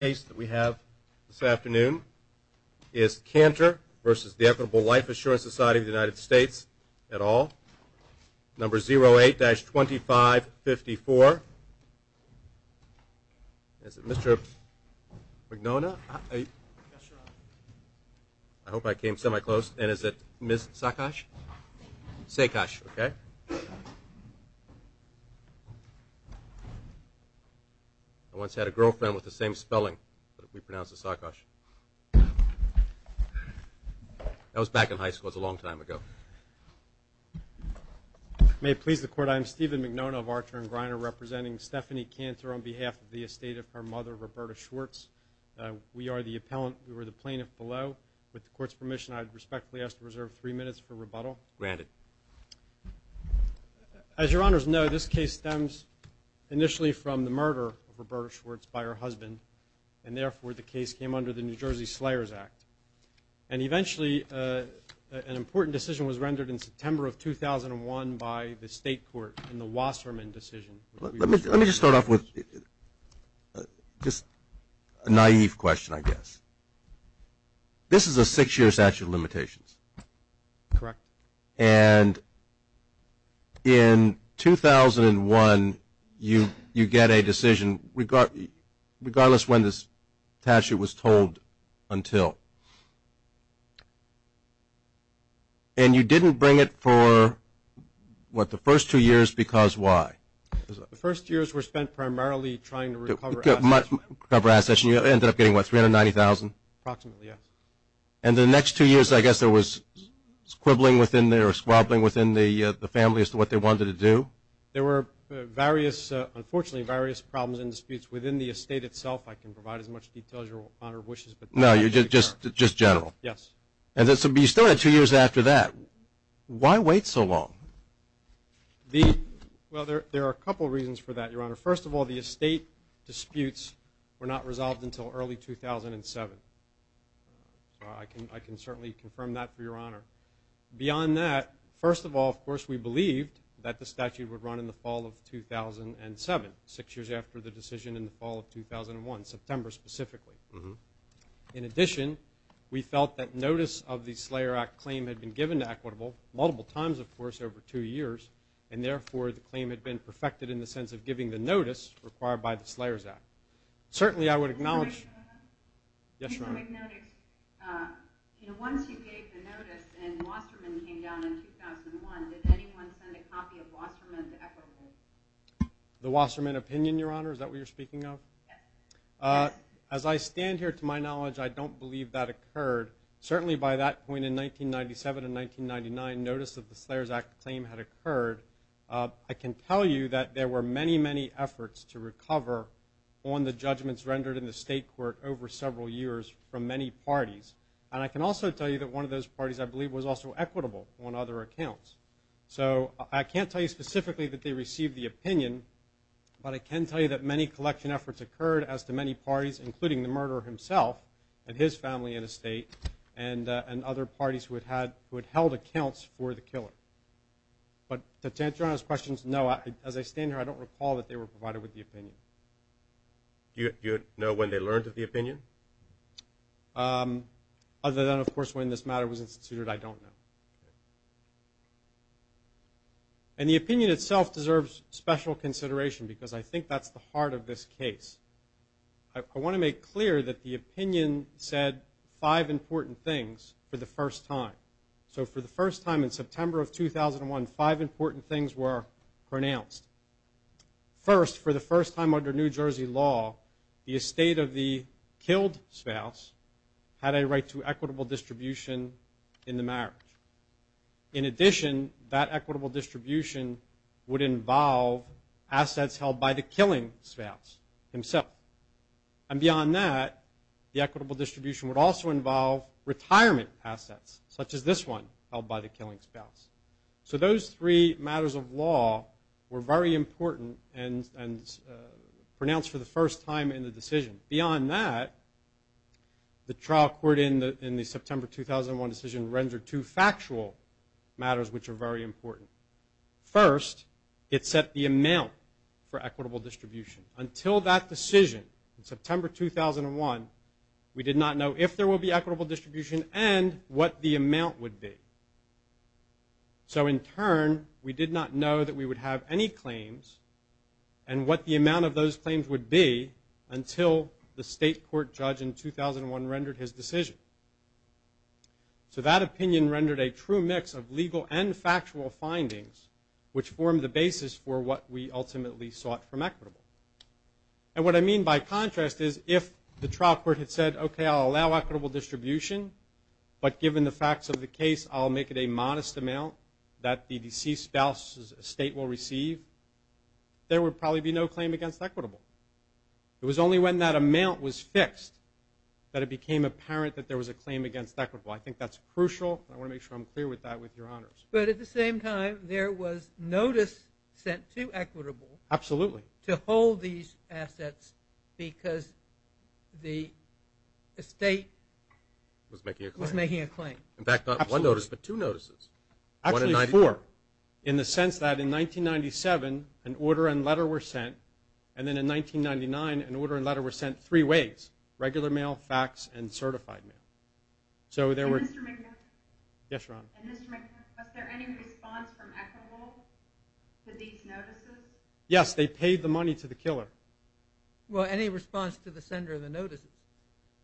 Life Assurance Society of the United States, et al., number 08-2554. Is it Mr. McDonough? Yes, your honor. I hope I came semi-close. And is it Ms. Saakash? Saakash, okay. I once had a girlfriend with the same spelling, but we pronounce it Saakash. That was back in high school. It was a long time ago. May it please the court, I am Stephen McDonough of Archer & Griner, representing Stephanie Cantor on behalf of the estate of her mother, Roberta Schwartz. We are the plaintiff below. With the court's permission, I would respectfully ask to reserve three minutes for rebuttal. Granted. As your honors know, this case stems initially from the murder of Roberta Schwartz by her husband. And therefore, the case came under the New Jersey Slayers Act. And eventually, an important decision was rendered in September of 2001 by the state court in the Wasserman decision. Let me just start off with just a naive question, I guess. This is a six-year statute of limitations. Correct. And in 2001, you get a decision regardless when this statute was told until. And you didn't bring it for, what, the first two years because why? The first two years were spent primarily trying to recover assets. Recover assets. And you ended up getting, what, $390,000? Approximately, yes. And the next two years, I guess, there was squabbling within the family as to what they wanted to do? There were various, unfortunately, various problems and disputes within the estate itself. I can provide as much detail as your Honor wishes. No, just general. Yes. And you still had two years after that. Why wait so long? Well, there are a couple reasons for that, your Honor. First of all, the estate disputes were not resolved until early 2007. So I can certainly confirm that for your Honor. Beyond that, first of all, of course, we believed that the statute would run in the fall of 2007, six years after the decision in the fall of 2001, September specifically. In addition, we felt that notice of the Slayer Act claim had been given to Equitable multiple times, of course, over two years. And therefore, the claim had been perfected in the sense of giving the notice required by the Slayers Act. Certainly, I would acknowledge – Can I say something? Yes, your Honor. Once you gave the notice and Wasserman came down in 2001, did anyone send a copy of Wasserman to Equitable? The Wasserman opinion, your Honor? Is that what you're speaking of? Yes. As I stand here, to my knowledge, I don't believe that occurred. Certainly, by that point in 1997 and 1999, notice of the Slayers Act claim had occurred. I can tell you that there were many, many efforts to recover on the judgments rendered in the state court over several years from many parties. And I can also tell you that one of those parties, I believe, was also Equitable on other accounts. So I can't tell you specifically that they received the opinion, but I can tell you that many collection efforts occurred as to many parties, including the murderer himself and his family and estate and other parties who had held accounts for the killer. But to answer your Honor's questions, no, as I stand here, I don't recall that they were provided with the opinion. Do you know when they learned of the opinion? Other than, of course, when this matter was instituted, I don't know. And the opinion itself deserves special consideration, because I think that's the heart of this case. I want to make clear that the opinion said five important things for the first time. So for the first time in September of 2001, five important things were pronounced. First, for the first time under New Jersey law, the estate of the killed spouse had a right to equitable distribution in the marriage. In addition, that equitable distribution would involve assets held by the killing spouse himself. And beyond that, the equitable distribution would also involve retirement assets, such as this one held by the killing spouse. So those three matters of law were very important and pronounced for the first time in the decision. Beyond that, the trial court in the September 2001 decision rendered two factual matters which are very important. First, it set the amount for equitable distribution. Until that decision in September 2001, we did not know if there will be equitable distribution and what the amount would be. So in turn, we did not know that we would have any claims and what the amount of those claims would be until the state court judge in 2001 rendered his decision. So that opinion rendered a true mix of legal and factual findings, which formed the basis for what we ultimately sought from equitable. And what I mean by contrast is if the trial court had said, okay, I'll allow equitable distribution, but given the facts of the case, I'll make it a modest amount that the deceased spouse's estate will receive, there would probably be no claim against equitable. It was only when that amount was fixed that it became apparent that there was a claim against equitable. I think that's crucial, and I want to make sure I'm clear with that with your honors. But at the same time, there was notice sent to equitable to hold these assets because the estate was making a claim. In fact, not one notice, but two notices. Actually, four, in the sense that in 1997, an order and letter were sent, and then in 1999, an order and letter were sent three ways, regular mail, fax, and certified mail. And Mr. McNair? Yes, Your Honor. And Mr. McNair, was there any response from equitable to these notices? Yes, they paid the money to the killer. Well, any response to the sender of the notices?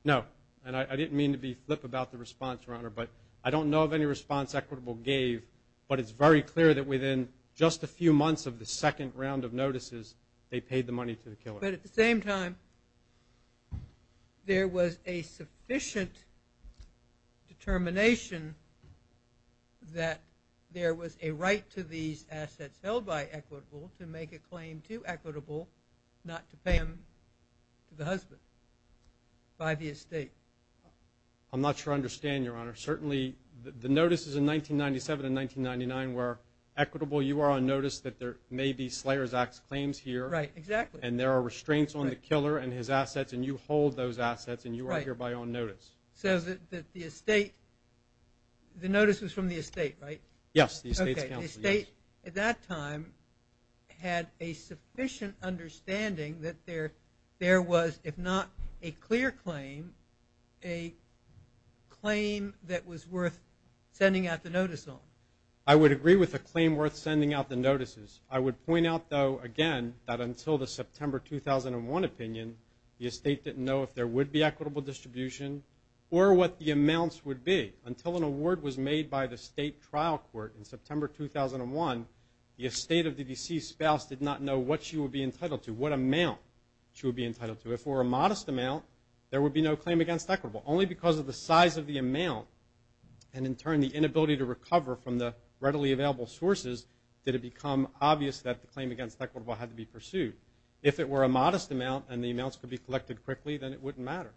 No, and I didn't mean to be flip about the response, Your Honor, but I don't know of any response equitable gave, but it's very clear that within just a few months of the second round of notices, they paid the money to the killer. But at the same time, there was a sufficient determination that there was a right to these assets held by equitable to make a claim to equitable, not to pay them to the husband by the estate. I'm not sure I understand, Your Honor. Certainly, the notices in 1997 and 1999 were equitable. You are on notice that there may be Slayer's Act claims here. Right, exactly. And there are restraints on the killer and his assets, and you hold those assets, and you are hereby on notice. So the notice was from the estate, right? Yes, the estate's counsel. Okay, the estate at that time had a sufficient understanding that there was, if not a clear claim, a claim that was worth sending out the notice on. I would agree with a claim worth sending out the notices. I would point out, though, again, that until the September 2001 opinion, the estate didn't know if there would be equitable distribution or what the amounts would be. Until an award was made by the state trial court in September 2001, the estate of the deceased spouse did not know what she would be entitled to, what amount she would be entitled to. If it were a modest amount, there would be no claim against equitable. Only because of the size of the amount and, in turn, the inability to recover from the readily available sources did it become obvious that the claim against equitable had to be pursued. If it were a modest amount and the amounts could be collected quickly, then it wouldn't matter.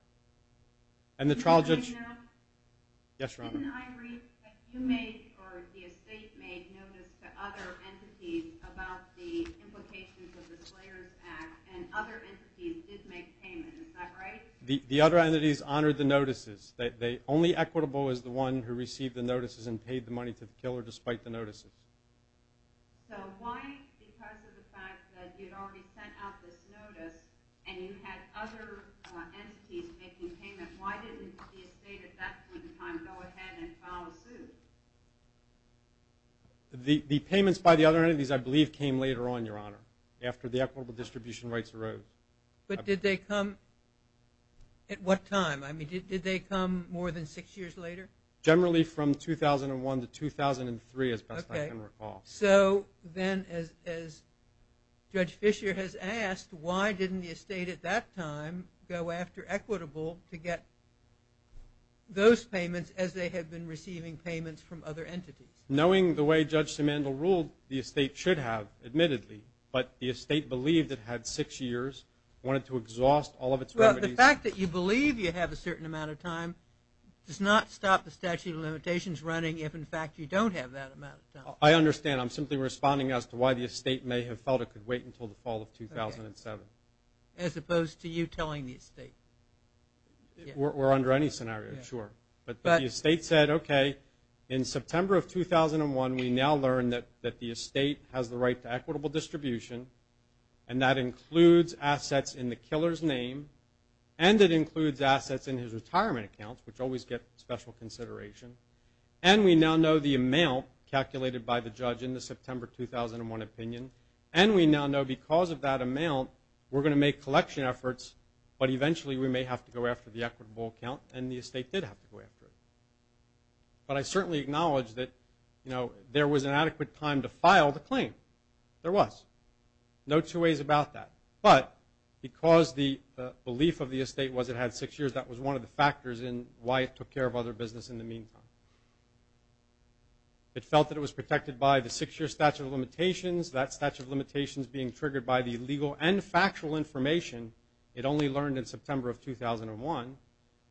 And the trial judge – Yes, Your Honor. Didn't I read that you made or the estate made notice to other entities about the implications of the Slayers Act, and other entities did make payment, is that right? The other entities honored the notices. Only equitable is the one who received the notices and paid the money to the killer despite the notices. So why, because of the fact that you'd already sent out this notice and you had other entities making payment, why didn't the estate at that point in time go ahead and file a suit? The payments by the other entities, I believe, came later on, Your Honor, after the equitable distribution rights arose. But did they come at what time? I mean, did they come more than six years later? Generally from 2001 to 2003, as best I can recall. Okay. So then, as Judge Fisher has asked, why didn't the estate at that time go after equitable to get those payments as they had been receiving payments from other entities? Knowing the way Judge Simandl ruled, the estate should have, admittedly, but the estate believed it had six years, wanted to exhaust all of its remedies. The fact that you believe you have a certain amount of time does not stop the statute of limitations running if, in fact, you don't have that amount of time. I understand. I'm simply responding as to why the estate may have felt it could wait until the fall of 2007. As opposed to you telling the estate. Or under any scenario, sure. But the estate said, okay, in September of 2001, we now learn that the estate has the right to equitable distribution, and that includes assets in the killer's name, and it includes assets in his retirement accounts, which always get special consideration, and we now know the amount calculated by the judge in the September 2001 opinion, and we now know because of that amount, we're going to make collection efforts, but eventually we may have to go after the equitable account, and the estate did have to go after it. But I certainly acknowledge that, you know, there was an adequate time to file the claim. There was. No two ways about that. But because the belief of the estate was it had six years, that was one of the factors in why it took care of other business in the meantime. It felt that it was protected by the six-year statute of limitations, that statute of limitations being triggered by the legal and factual information it only learned in September of 2001,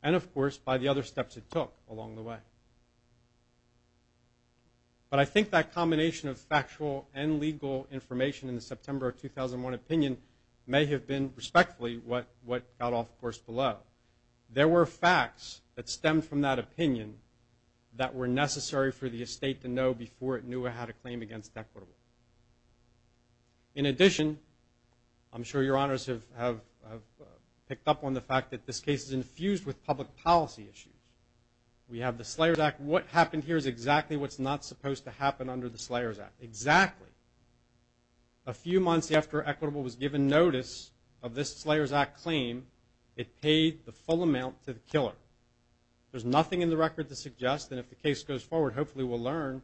and, of course, by the other steps it took along the way. But I think that combination of factual and legal information in the September 2001 opinion may have been respectfully what got off course below. There were facts that stemmed from that opinion that were necessary for the estate to know before it knew it had a claim against equitable. In addition, I'm sure your honors have picked up on the fact that this case is infused with public policy issues. We have the Slayers Act. What happened here is exactly what's not supposed to happen under the Slayers Act. Exactly. A few months after equitable was given notice of this Slayers Act claim, it paid the full amount to the killer. There's nothing in the record to suggest that if the case goes forward, hopefully we'll learn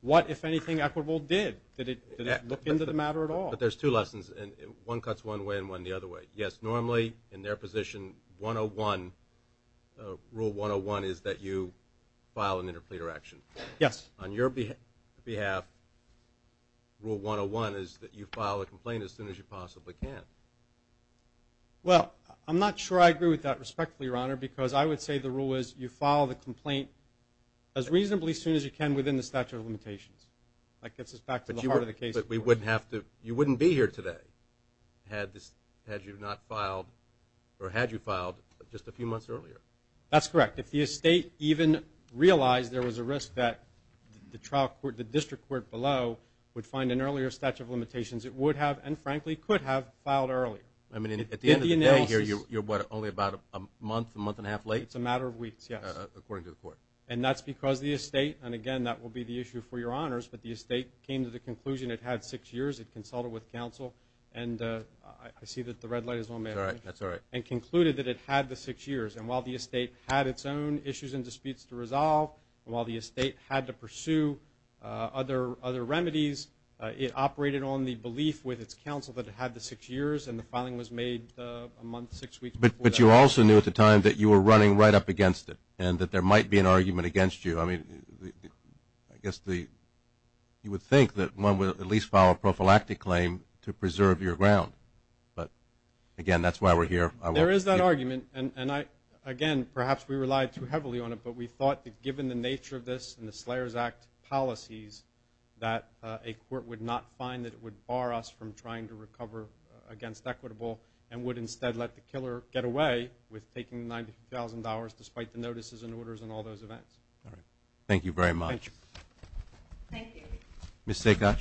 what, if anything, equitable did. Did it look into the matter at all? But there's two lessons, and one cuts one way and one the other way. Yes, normally in their position, rule 101 is that you file an interpleader action. Yes. On your behalf, rule 101 is that you file a complaint as soon as you possibly can. Well, I'm not sure I agree with that respectfully, Your Honor, because I would say the rule is you file the complaint as reasonably soon as you can within the statute of limitations. That gets us back to the heart of the case. But you wouldn't be here today had you not filed or had you filed just a few months earlier. That's correct. If the estate even realized there was a risk that the district court below would find an earlier statute of limitations, it would have and, frankly, could have filed earlier. I mean, at the end of the day here, you're what, only about a month, a month and a half late? It's a matter of weeks, yes. According to the court. And that's because the estate, and again that will be the issue for Your Honors, but the estate came to the conclusion it had six years, it consulted with counsel, and I see that the red light is on there. That's all right. And concluded that it had the six years. And while the estate had its own issues and disputes to resolve, and while the estate had to pursue other remedies, it operated on the belief with its counsel that it had the six years, and the filing was made a month, six weeks before that. But you also knew at the time that you were running right up against it and that there might be an argument against you. I mean, I guess you would think that one would at least file a prophylactic claim to preserve your ground. But, again, that's why we're here. There is that argument. And, again, perhaps we relied too heavily on it, but we thought that given the nature of this and the Slayer's Act policies that a court would not find that it would bar us from trying to recover against equitable and would instead let the killer get away with taking $90,000 despite the notices and orders and all those events. All right. Thank you very much. Thank you. Ms. Saakash.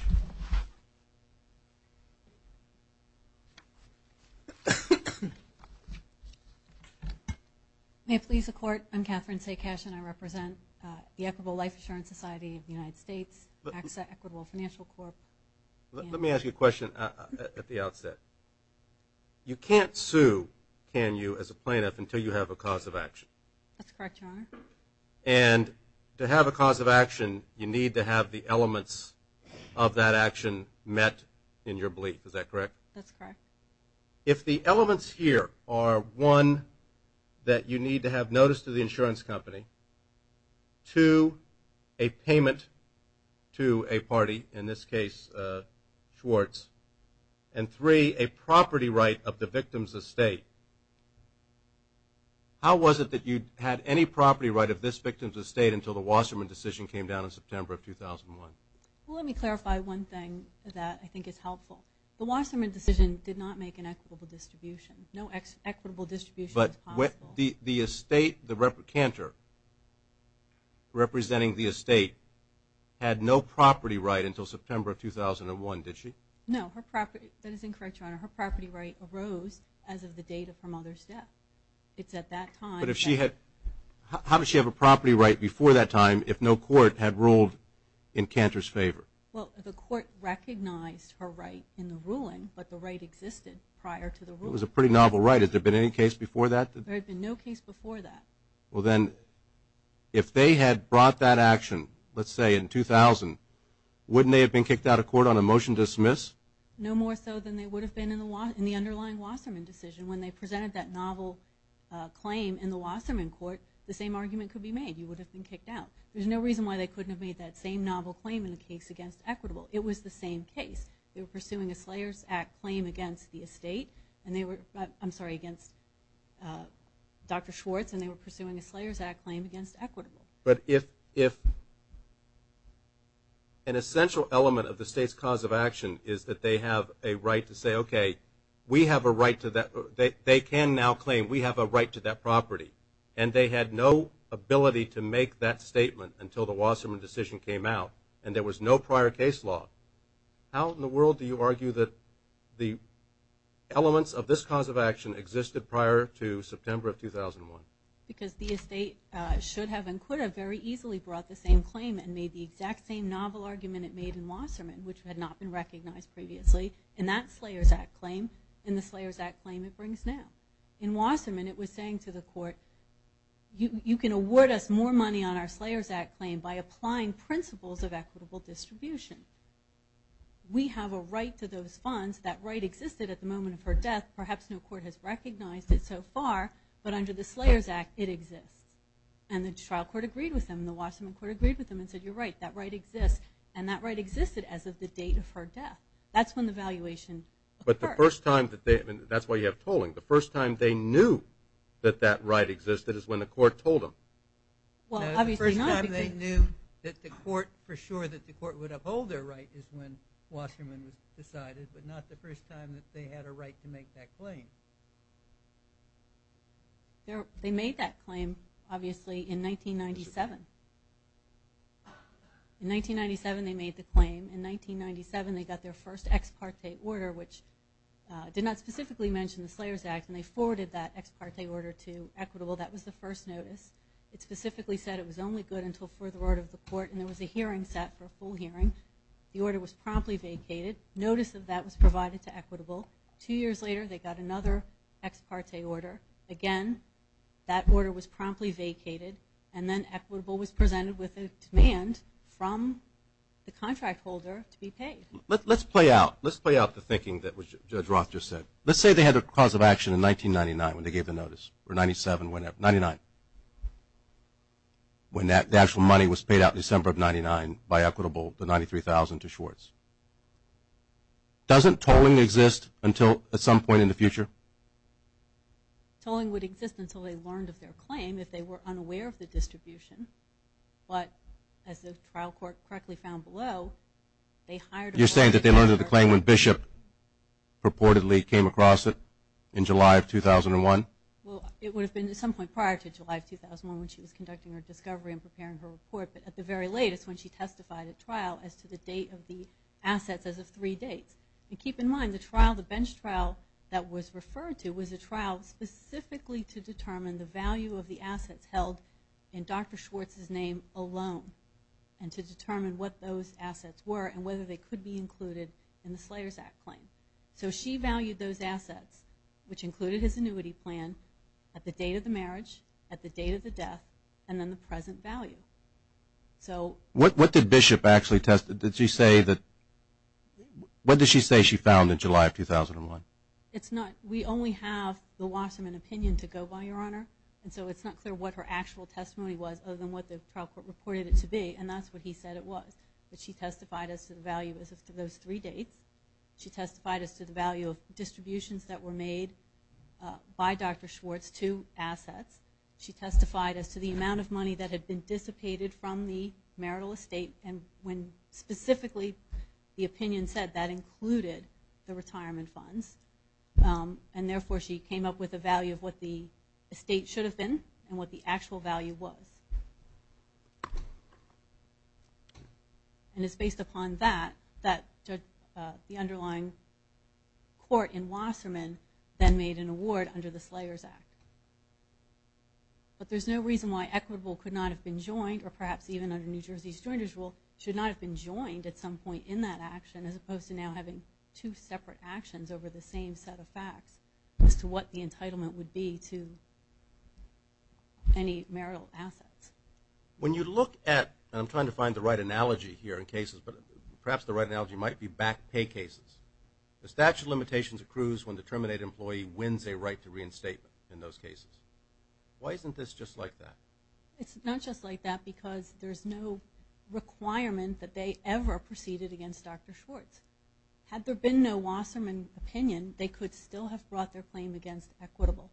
May it please the Court, I'm Catherine Saakash, and I represent the Equitable Life Insurance Society of the United States, AXA Equitable Financial Corp. Let me ask you a question at the outset. You can't sue, can you, as a plaintiff, until you have a cause of action. That's correct, Your Honor. And to have a cause of action, you need to have the elements of that action met in your belief. Is that correct? That's correct. If the elements here are, one, that you need to have notice to the insurance company, two, a payment to a party, in this case Schwartz, and three, a property right of the victim's estate, how was it that you had any property right of this victim's estate until the Wasserman decision came down in September of 2001? Well, let me clarify one thing that I think is helpful. The Wasserman decision did not make an equitable distribution. No equitable distribution was possible. But the estate, the replicant representing the estate, had no property right until September of 2001, did she? No. That is incorrect, Your Honor. Her property right arose as of the date of her mother's death. It's at that time. But how did she have a property right before that time if no court had ruled in Cantor's favor? Well, the court recognized her right in the ruling, but the right existed prior to the ruling. It was a pretty novel right. Has there been any case before that? There had been no case before that. Well, then, if they had brought that action, let's say in 2000, wouldn't they have been kicked out of court on a motion to dismiss? No more so than they would have been in the underlying Wasserman decision. When they presented that novel claim in the Wasserman court, the same argument could be made. You would have been kicked out. There's no reason why they couldn't have made that same novel claim in the case against Equitable. It was the same case. They were pursuing a Slayers Act claim against the estate, I'm sorry, against Dr. Schwartz, and they were pursuing a Slayers Act claim against Equitable. But if an essential element of the state's cause of action is that they have a right to say, okay, we have a right to that, they can now claim we have a right to that property, and they had no ability to make that statement until the Wasserman decision came out, and there was no prior case law, how in the world do you argue that the elements of this cause of action existed prior to September of 2001? Because the estate should have and could have very easily brought the same claim and made the exact same novel argument it made in Wasserman, which had not been recognized previously, in that Slayers Act claim and the Slayers Act claim it brings now. In Wasserman it was saying to the court, you can award us more money on our Slayers Act claim by applying principles of equitable distribution. We have a right to those funds. That right existed at the moment of her death. Perhaps no court has recognized it so far, but under the Slayers Act it exists, and the trial court agreed with them, and the Wasserman court agreed with them and said, you're right, that right exists, and that right existed as of the date of her death. That's when the valuation occurred. But the first time that they, and that's why you have tolling, the first time they knew that that right existed is when the court told them. Well, obviously not. No, the first time they knew that the court, for sure that the court would uphold their right is when Wasserman was decided, but not the first time that they had a right to make that claim. They made that claim, obviously, in 1997. In 1997 they made the claim. In 1997 they got their first ex parte order, which did not specifically mention the Slayers Act, and they forwarded that ex parte order to Equitable. That was the first notice. It specifically said it was only good until further order of the court, and there was a hearing set for a full hearing. The order was promptly vacated. Notice of that was provided to Equitable. Two years later they got another ex parte order. Again, that order was promptly vacated, and then Equitable was presented with a demand from the contract holder to be paid. Let's play out the thinking that Judge Roth just said. Let's say they had a cause of action in 1999 when they gave the notice, or 97, 99, when the actual money was paid out in December of 1999 by Equitable, the $93,000 to Schwartz. Doesn't tolling exist until at some point in the future? Tolling would exist until they learned of their claim, if they were unaware of the distribution. But as the trial court correctly found below, they hired a lawyer. You're saying that they learned of the claim when Bishop purportedly came across it in July of 2001? Well, it would have been at some point prior to July of 2001 when she was conducting her discovery and preparing her report, but at the very latest when she testified at trial as to the date of the assets as of three dates. And keep in mind, the trial, the bench trial that was referred to was a trial specifically to determine the value of the assets held in Dr. Schwartz's name alone and to determine what those assets were and whether they could be included in the Slayers Act claim. So she valued those assets, which included his annuity plan, at the date of the marriage, at the date of the death, and then the present value. What did Bishop actually say she found in July of 2001? We only have the Wasserman opinion to go by, Your Honor, and so it's not clear what her actual testimony was other than what the trial court reported it to be, and that's what he said it was. But she testified as to the value as of those three dates. She testified as to the value of distributions that were made by Dr. Schwartz to assets. She testified as to the amount of money that had been dissipated from the marital estate when specifically the opinion said that included the retirement funds, and therefore she came up with a value of what the estate should have been and what the actual value was. And it's based upon that that the underlying court in Wasserman then made an award under the Slayers Act. But there's no reason why Equitable could not have been joined, or perhaps even under New Jersey's Joiners Rule, should not have been joined at some point in that action as opposed to now having two separate actions over the same set of facts as to what the entitlement would be to any marital assets. When you look at, and I'm trying to find the right analogy here in cases, but perhaps the right analogy might be back pay cases, the statute of limitations accrues when the terminated employee wins a right to reinstatement in those cases. Why isn't this just like that? It's not just like that because there's no requirement that they ever proceeded against Dr. Schwartz. Had there been no Wasserman opinion, they could still have brought their claim against Equitable.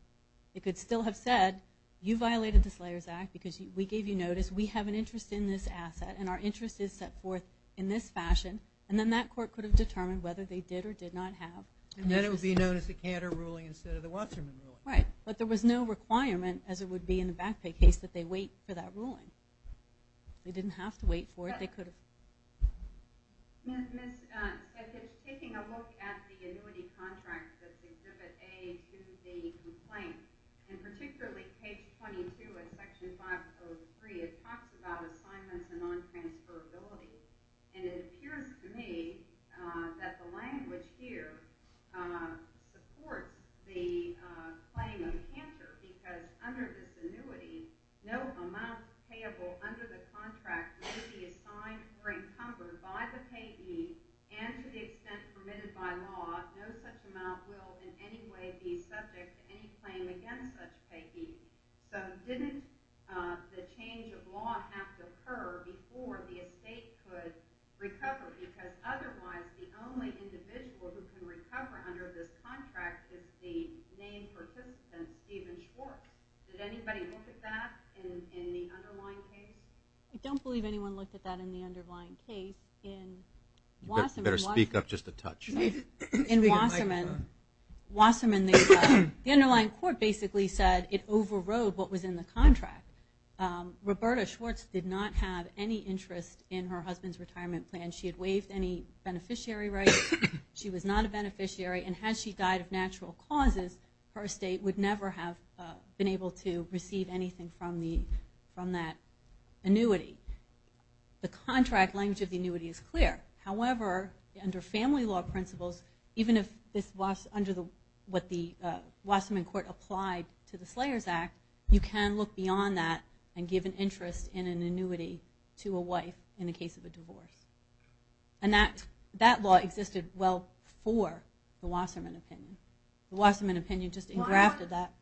It could still have said, you violated the Slayers Act because we gave you notice. We have an interest in this asset, and our interest is set forth in this fashion. And then that court could have determined whether they did or did not have an interest. And then it would be known as the Cantor ruling instead of the Wasserman ruling. Right, but there was no requirement, as it would be in the back pay case, that they wait for that ruling. They didn't have to wait for it. Ms. Sketich, taking a look at the annuity contract that's Exhibit A to the complaint, and particularly page 22 of Section 503, it talks about assignments and non-transferability. And it appears to me that the language here supports the claim of Cantor because under this annuity, no amount payable under the contract may be assigned or encumbered by the payee, and to the extent permitted by law, no such amount will in any way be subject to any claim against such payee. So didn't the change of law have to occur before the estate could recover? Because otherwise, the only individual who can recover under this contract is the named participant, Steven Schwartz. Did anybody look at that in the underlying case? I don't believe anyone looked at that in the underlying case. You better speak up just a touch. In Wasserman, the underlying court basically said it overrode what was in the contract. Roberta Schwartz did not have any interest in her husband's retirement plan. She had waived any beneficiary rights. She was not a beneficiary, and had she died of natural causes, her estate would never have been able to receive anything from that annuity. The contract language of the annuity is clear. However, under family law principles, even if this was under what the Wasserman court applied to the Slayers Act, you can look beyond that and give an interest in an annuity to a wife in the case of a divorce. And that law existed well before the Wasserman opinion. The Wasserman opinion just engrafted that.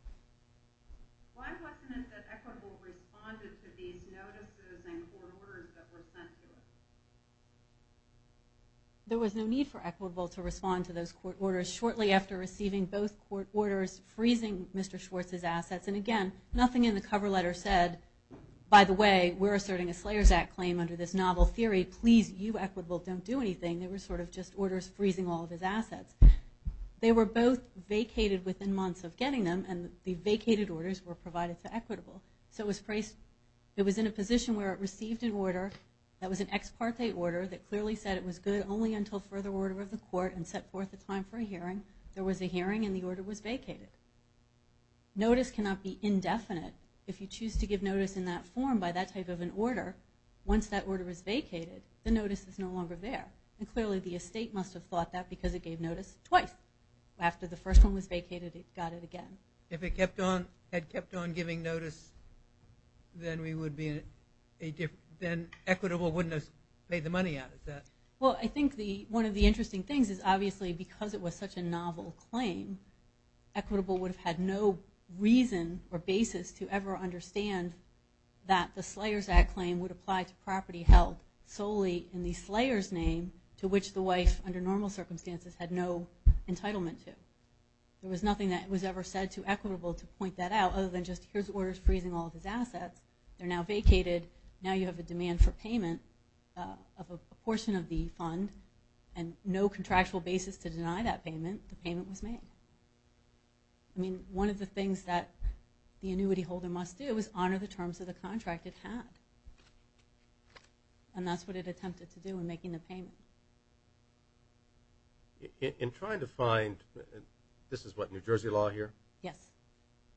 Why wasn't it that Equitable responded to these notices and court orders that were sent to it? There was no need for Equitable to respond to those court orders. Shortly after receiving both court orders, freezing Mr. Schwartz's assets, and again, nothing in the cover letter said, by the way, we're asserting a Slayers Act claim under this novel theory. Please, you, Equitable, don't do anything. They were sort of just orders freezing all of his assets. They were both vacated within months of getting them, and the vacated orders were provided to Equitable. So it was in a position where it received an order that was an ex parte order that clearly said it was good only until further order of the court, and set forth a time for a hearing. There was a hearing, and the order was vacated. Notice cannot be indefinite. If you choose to give notice in that form by that type of an order, once that order is vacated, the notice is no longer there. And clearly the estate must have thought that because it gave notice twice. After the first one was vacated, it got it again. If it had kept on giving notice, then Equitable wouldn't have paid the money out, is that it? Well, I think one of the interesting things is obviously because it was such a novel claim, Equitable would have had no reason or basis to ever understand that the Slayer's Act claim would apply to property held solely in the Slayer's name, to which the wife, under normal circumstances, had no entitlement to. There was nothing that was ever said to Equitable to point that out, other than just here's orders freezing all of his assets. They're now vacated. Now you have a demand for payment of a portion of the fund, and no contractual basis to deny that payment. The payment was made. I mean, one of the things that the annuity holder must do is honor the terms of the contract it had. And that's what it attempted to do in making the payment. In trying to find – this is what, New Jersey law here? Yes.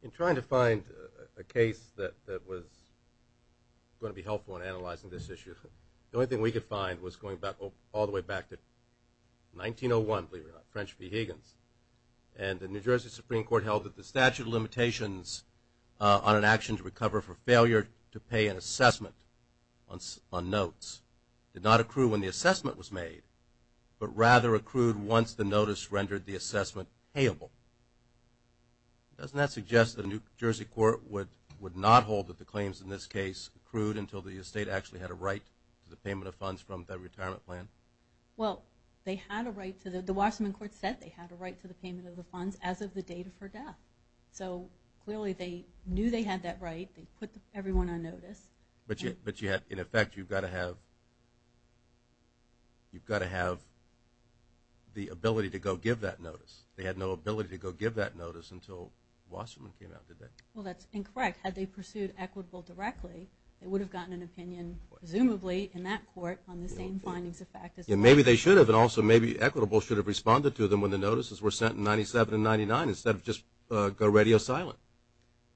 In trying to find a case that was going to be helpful in analyzing this issue, the only thing we could find was going all the way back to 1901, believe it or not, French v. Higgins, and the New Jersey Supreme Court held that the statute of limitations on an action to recover for failure to pay an assessment on notes did not accrue when the assessment was made, but rather accrued once the notice rendered the assessment payable. Doesn't that suggest that a New Jersey court would not hold that the claims in this case accrued until the estate actually had a right to the payment of funds from the retirement plan? Well, they had a right to the – the Wasserman court said they had a right to the payment of the funds as of the date of her death. So clearly they knew they had that right. They put everyone on notice. But in effect, you've got to have the ability to go give that notice. They had no ability to go give that notice until Wasserman came out, did they? Well, that's incorrect. Had they pursued Equitable directly, they would have gotten an opinion presumably in that court on the same findings of fact. Maybe they should have, and also maybe Equitable should have responded to them when the notices were sent in 1997 and 1999 instead of just go radio silent.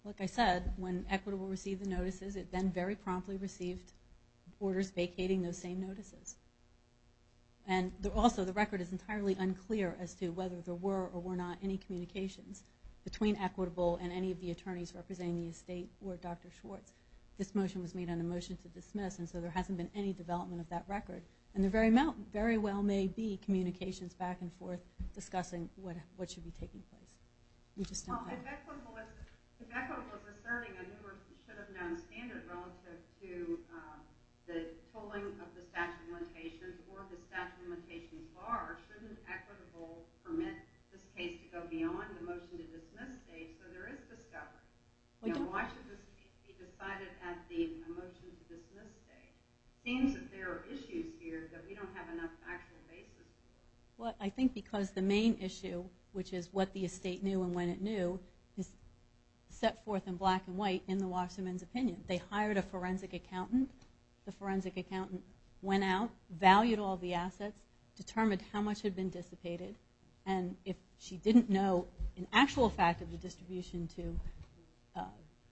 Like I said, when Equitable received the notices, it then very promptly received orders vacating those same notices. And also the record is entirely unclear as to whether there were or were not any communications between Equitable and any of the attorneys representing the estate or Dr. Schwartz. This motion was made on a motion to dismiss, and so there hasn't been any development of that record. And there very well may be communications back and forth discussing what should be taking place. Well, if Equitable was asserting a newer, should have known standard relative to the tolling of the statute of limitations or the statute of limitations bar, why shouldn't Equitable permit this case to go beyond the motion to dismiss stage? So there is discovery. Why should this case be decided at the motion to dismiss stage? It seems that there are issues here that we don't have enough factual basis for. Well, I think because the main issue, which is what the estate knew and when it knew, is set forth in black and white in the Washington's opinion. They hired a forensic accountant. The forensic accountant went out, valued all the assets, determined how much had been dissipated, and if she didn't know an actual fact of the distribution to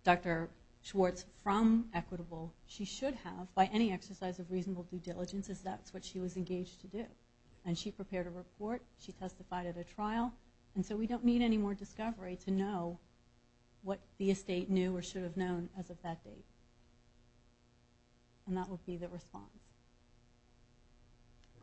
Dr. Schwartz from Equitable, she should have, by any exercise of reasonable due diligence, as that's what she was engaged to do. And she prepared a report. She testified at a trial. And so we don't need any more discovery to know what the estate knew or should have known as of that date. And that would be the response.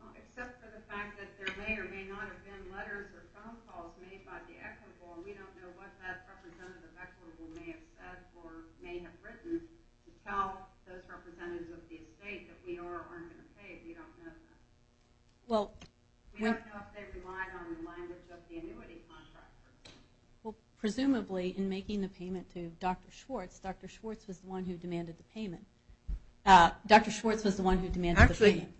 Well, except for the fact that there may or may not have been letters or phone calls made by the Equitable, and we don't know what that representative of Equitable may have said or may have written to tell those representatives of the estate that we are or aren't going to pay if we don't know that. We don't know if they relied on the language of the annuity contractor. Well, presumably, in making the payment to Dr. Schwartz, Dr. Schwartz was the one who demanded the payment. Dr. Schwartz was the one who demanded the payment. Actually,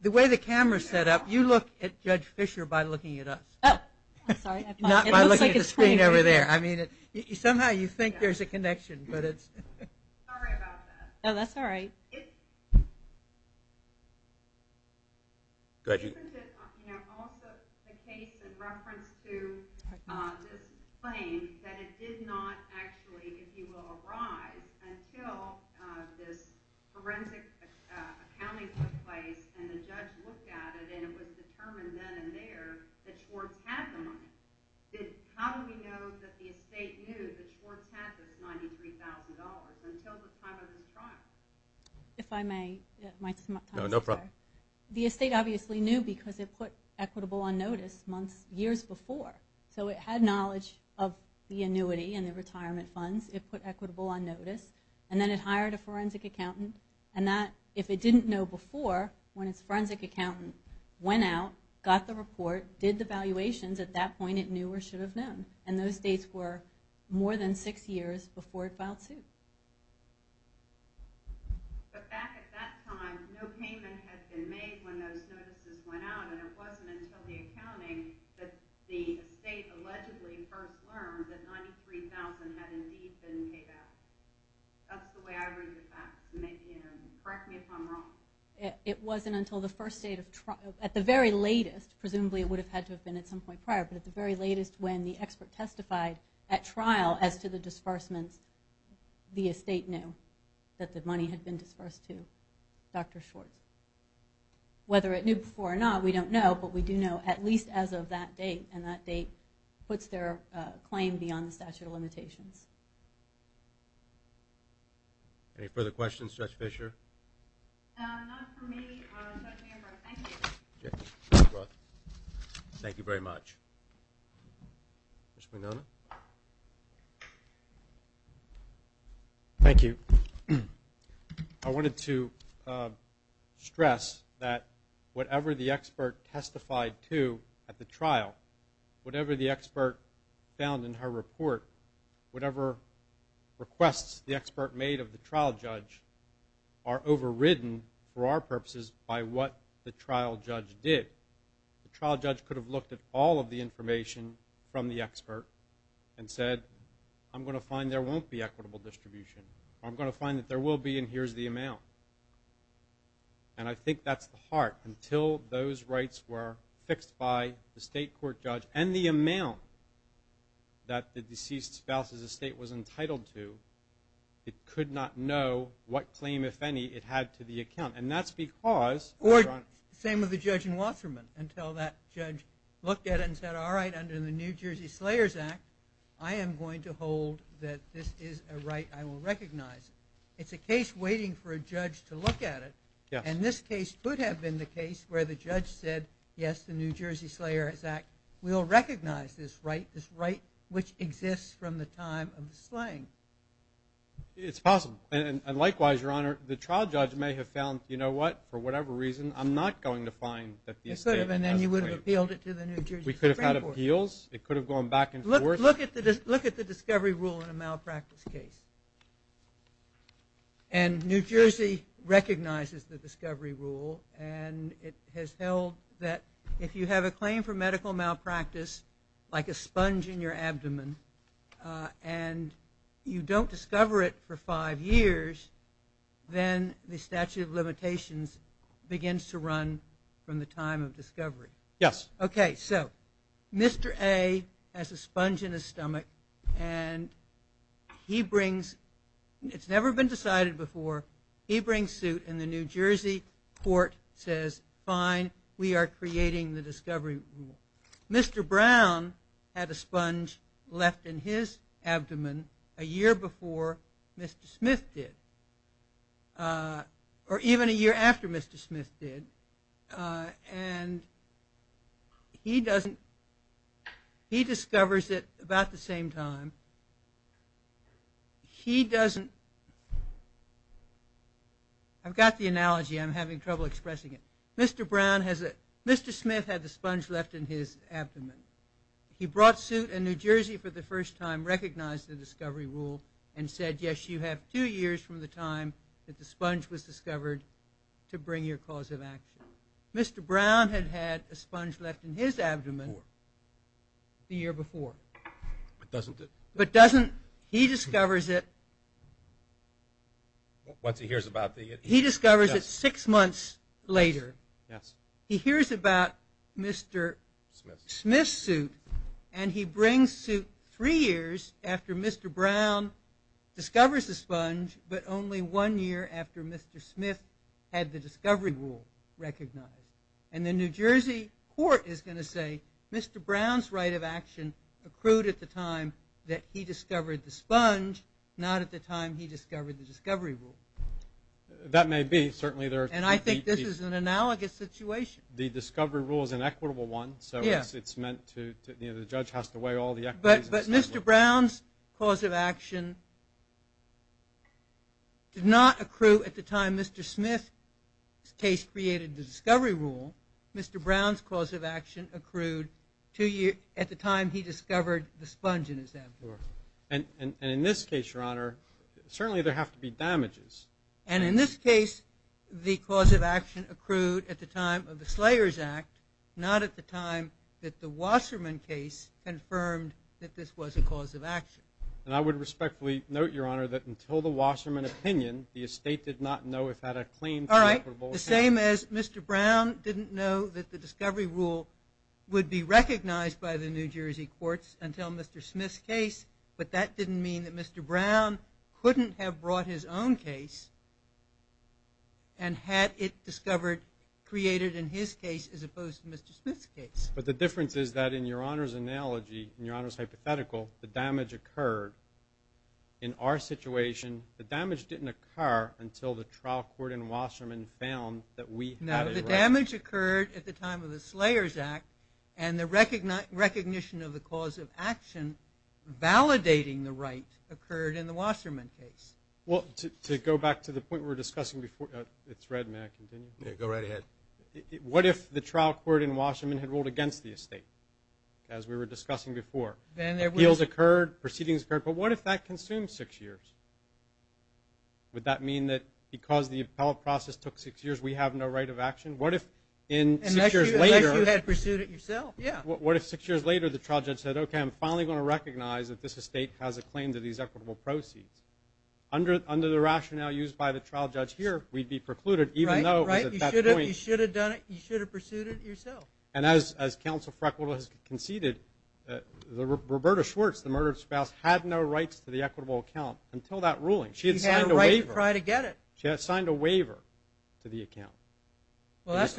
the way the camera is set up, you look at Judge Fisher by looking at us. Oh, I'm sorry. Not by looking at the screen over there. I mean, somehow you think there's a connection, but it's... Sorry about that. Oh, that's all right. Go ahead. Isn't it also the case in reference to this claim that it did not actually, if you will, arise until this forensic accounting took place and the judge looked at it and it was determined then and there that Schwartz had the money? How do we know that the estate knew that Schwartz had this $93,000 until the time of his trial? If I may, my time is up. No problem. The estate obviously knew because it put equitable on notice years before. So it had knowledge of the annuity and the retirement funds. It put equitable on notice. And then it hired a forensic accountant. And that, if it didn't know before, when its forensic accountant went out, got the report, did the valuations, at that point it knew or should have known. And those dates were more than six years before it filed suit. But back at that time, no payment had been made when those notices went out, and it wasn't until the accounting that the estate allegedly first learned that $93,000 had indeed been paid out. That's the way I read it back. Correct me if I'm wrong. It wasn't until the first state of trial. At the very latest, presumably it would have had to have been at some point prior, but at the very latest when the expert testified at trial as to the disbursements, the estate knew that the money had been disbursed to Dr. Schwartz. Whether it knew before or not, we don't know. But we do know at least as of that date, and that date puts their claim beyond the statute of limitations. Any further questions? Judge Fischer? Not for me. Judge Manfred, thank you. Judge Roth? Thank you very much. Judge Mignone? Thank you. I wanted to stress that whatever the expert testified to at the trial, whatever the expert found in her report, whatever requests the expert made of the trial judge are overridden for our purposes by what the trial judge did. The trial judge could have looked at all of the information from the expert and said, I'm going to find there won't be equitable distribution. I'm going to find that there will be, and here's the amount. And I think that's the heart. Until those rights were fixed by the state court judge and the amount that the deceased spouse's estate was entitled to, Or the same with the judge in Wasserman until that judge looked at it and said, all right, under the New Jersey Slayers Act, I am going to hold that this is a right I will recognize. It's a case waiting for a judge to look at it. And this case could have been the case where the judge said, yes, the New Jersey Slayers Act will recognize this right, this right which exists from the time of the slaying. It's possible. And likewise, Your Honor, the trial judge may have found, you know what, for whatever reason, I'm not going to find that the estate was slayed. It could have, and then you would have appealed it to the New Jersey Supreme Court. We could have had appeals. It could have gone back and forth. Look at the discovery rule in a malpractice case. And New Jersey recognizes the discovery rule, and it has held that if you have a claim for medical malpractice, like a sponge in your abdomen, and you don't discover it for five years, then the statute of limitations begins to run from the time of discovery. Yes. Okay. So Mr. A has a sponge in his stomach, and he brings, it's never been decided before, he brings suit, and the New Jersey court says, fine, we are creating the discovery rule. Mr. Brown had a sponge left in his abdomen a year before Mr. Smith did, or even a year after Mr. Smith did, and he doesn't, he discovers it about the same time. He doesn't, I've got the analogy, I'm having trouble expressing it. Mr. Brown has a, Mr. Smith had the sponge left in his abdomen. He brought suit, and New Jersey for the first time recognized the discovery rule, and said, yes, you have two years from the time that the sponge was discovered to bring your cause of action. Mr. Brown had had a sponge left in his abdomen the year before. But doesn't, he discovers it, once he hears about the, yes. He discovers it six months later. Yes. He hears about Mr. Smith's suit, and he brings suit three years after Mr. Brown discovers the sponge, but only one year after Mr. Smith had the discovery rule recognized. And the New Jersey court is going to say Mr. Brown's right of action accrued at the time that he discovered the sponge, not at the time he discovered the discovery rule. That may be. Certainly there are. And I think this is an analogous situation. The discovery rule is an equitable one. Yes. So it's meant to, you know, the judge has to weigh all the equities. But Mr. Brown's cause of action did not accrue at the time Mr. Smith's case created the discovery rule. Mr. Brown's cause of action accrued two years, at the time he discovered the sponge in his abdomen. Sure. And in this case, Your Honor, certainly there have to be damages. And in this case, the cause of action accrued at the time of the Slayers Act, not at the time that the Wasserman case confirmed that this was a cause of action. And I would respectfully note, Your Honor, that until the Wasserman opinion, the estate did not know if it had a claim. All right. The same as Mr. Brown didn't know that the discovery rule would be recognized by the New Jersey courts until Mr. Smith's case. But that didn't mean that Mr. Brown couldn't have brought his own case and had it discovered, created in his case as opposed to Mr. Smith's case. But the difference is that in Your Honor's analogy, in Your Honor's hypothetical, the damage occurred. In our situation, the damage didn't occur until the trial court and Wasserman found that we had a right. No. The damage occurred at the time of the Slayers Act, and the recognition of the cause of action validating the right occurred in the Wasserman case. Well, to go back to the point we were discussing before, it's red. May I continue? Yeah. Go right ahead. What if the trial court and Wasserman had ruled against the estate, as we were discussing before? Appeals occurred. Proceedings occurred. But what if that consumed six years? Would that mean that because the appellate process took six years, we have no right of action? Unless you had pursued it yourself. Yeah. What if six years later the trial judge said, okay, I'm finally going to recognize that this estate has a claim to these equitable proceeds? Under the rationale used by the trial judge here, we'd be precluded. Right. You should have pursued it yourself. And as Counsel Freckle has conceded, Roberta Schwartz, the murdered spouse, had no rights to the equitable account until that ruling. She had signed a waiver. She had a right to try to get it. She had signed a waiver to the account. Well, that's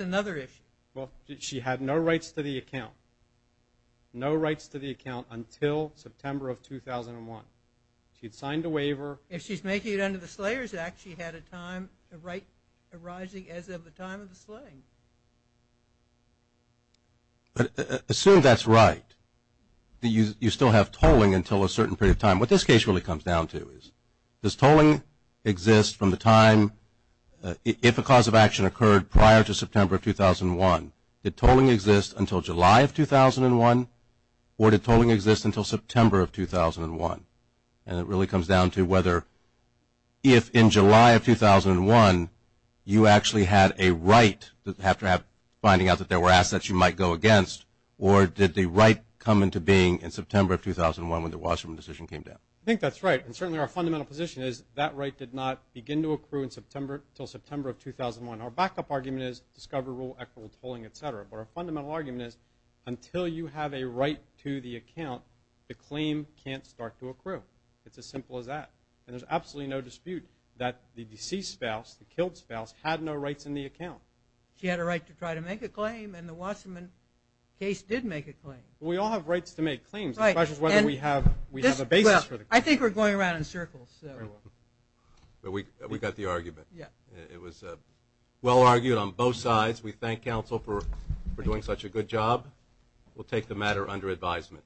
another issue. She had no rights to the account. No rights to the account until September of 2001. She had signed a waiver. If she's making it under the Slayers Act, she had a right arising as of the time of the slaying. Assume that's right, that you still have tolling until a certain period of time. What this case really comes down to is, does tolling exist from the time, if a cause of action occurred prior to September of 2001, did tolling exist until July of 2001 or did tolling exist until September of 2001? And it really comes down to whether, if in July of 2001, you actually had a right to have to have finding out that there were assets you might go against, or did the right come into being in September of 2001 when the Wasserman decision came down? I think that's right. And certainly our fundamental position is that right did not begin to accrue until September of 2001. Our backup argument is discover rule equitable tolling, et cetera. But our fundamental argument is, until you have a right to the account, the claim can't start to accrue. It's as simple as that. And there's absolutely no dispute that the deceased spouse, the killed spouse, had no rights in the account. She had a right to try to make a claim, and the Wasserman case did make a claim. We all have rights to make claims. The question is whether we have a basis for the claim. I think we're going around in circles. We got the argument. It was well argued on both sides. We thank counsel for doing such a good job. We'll take the matter under advisement.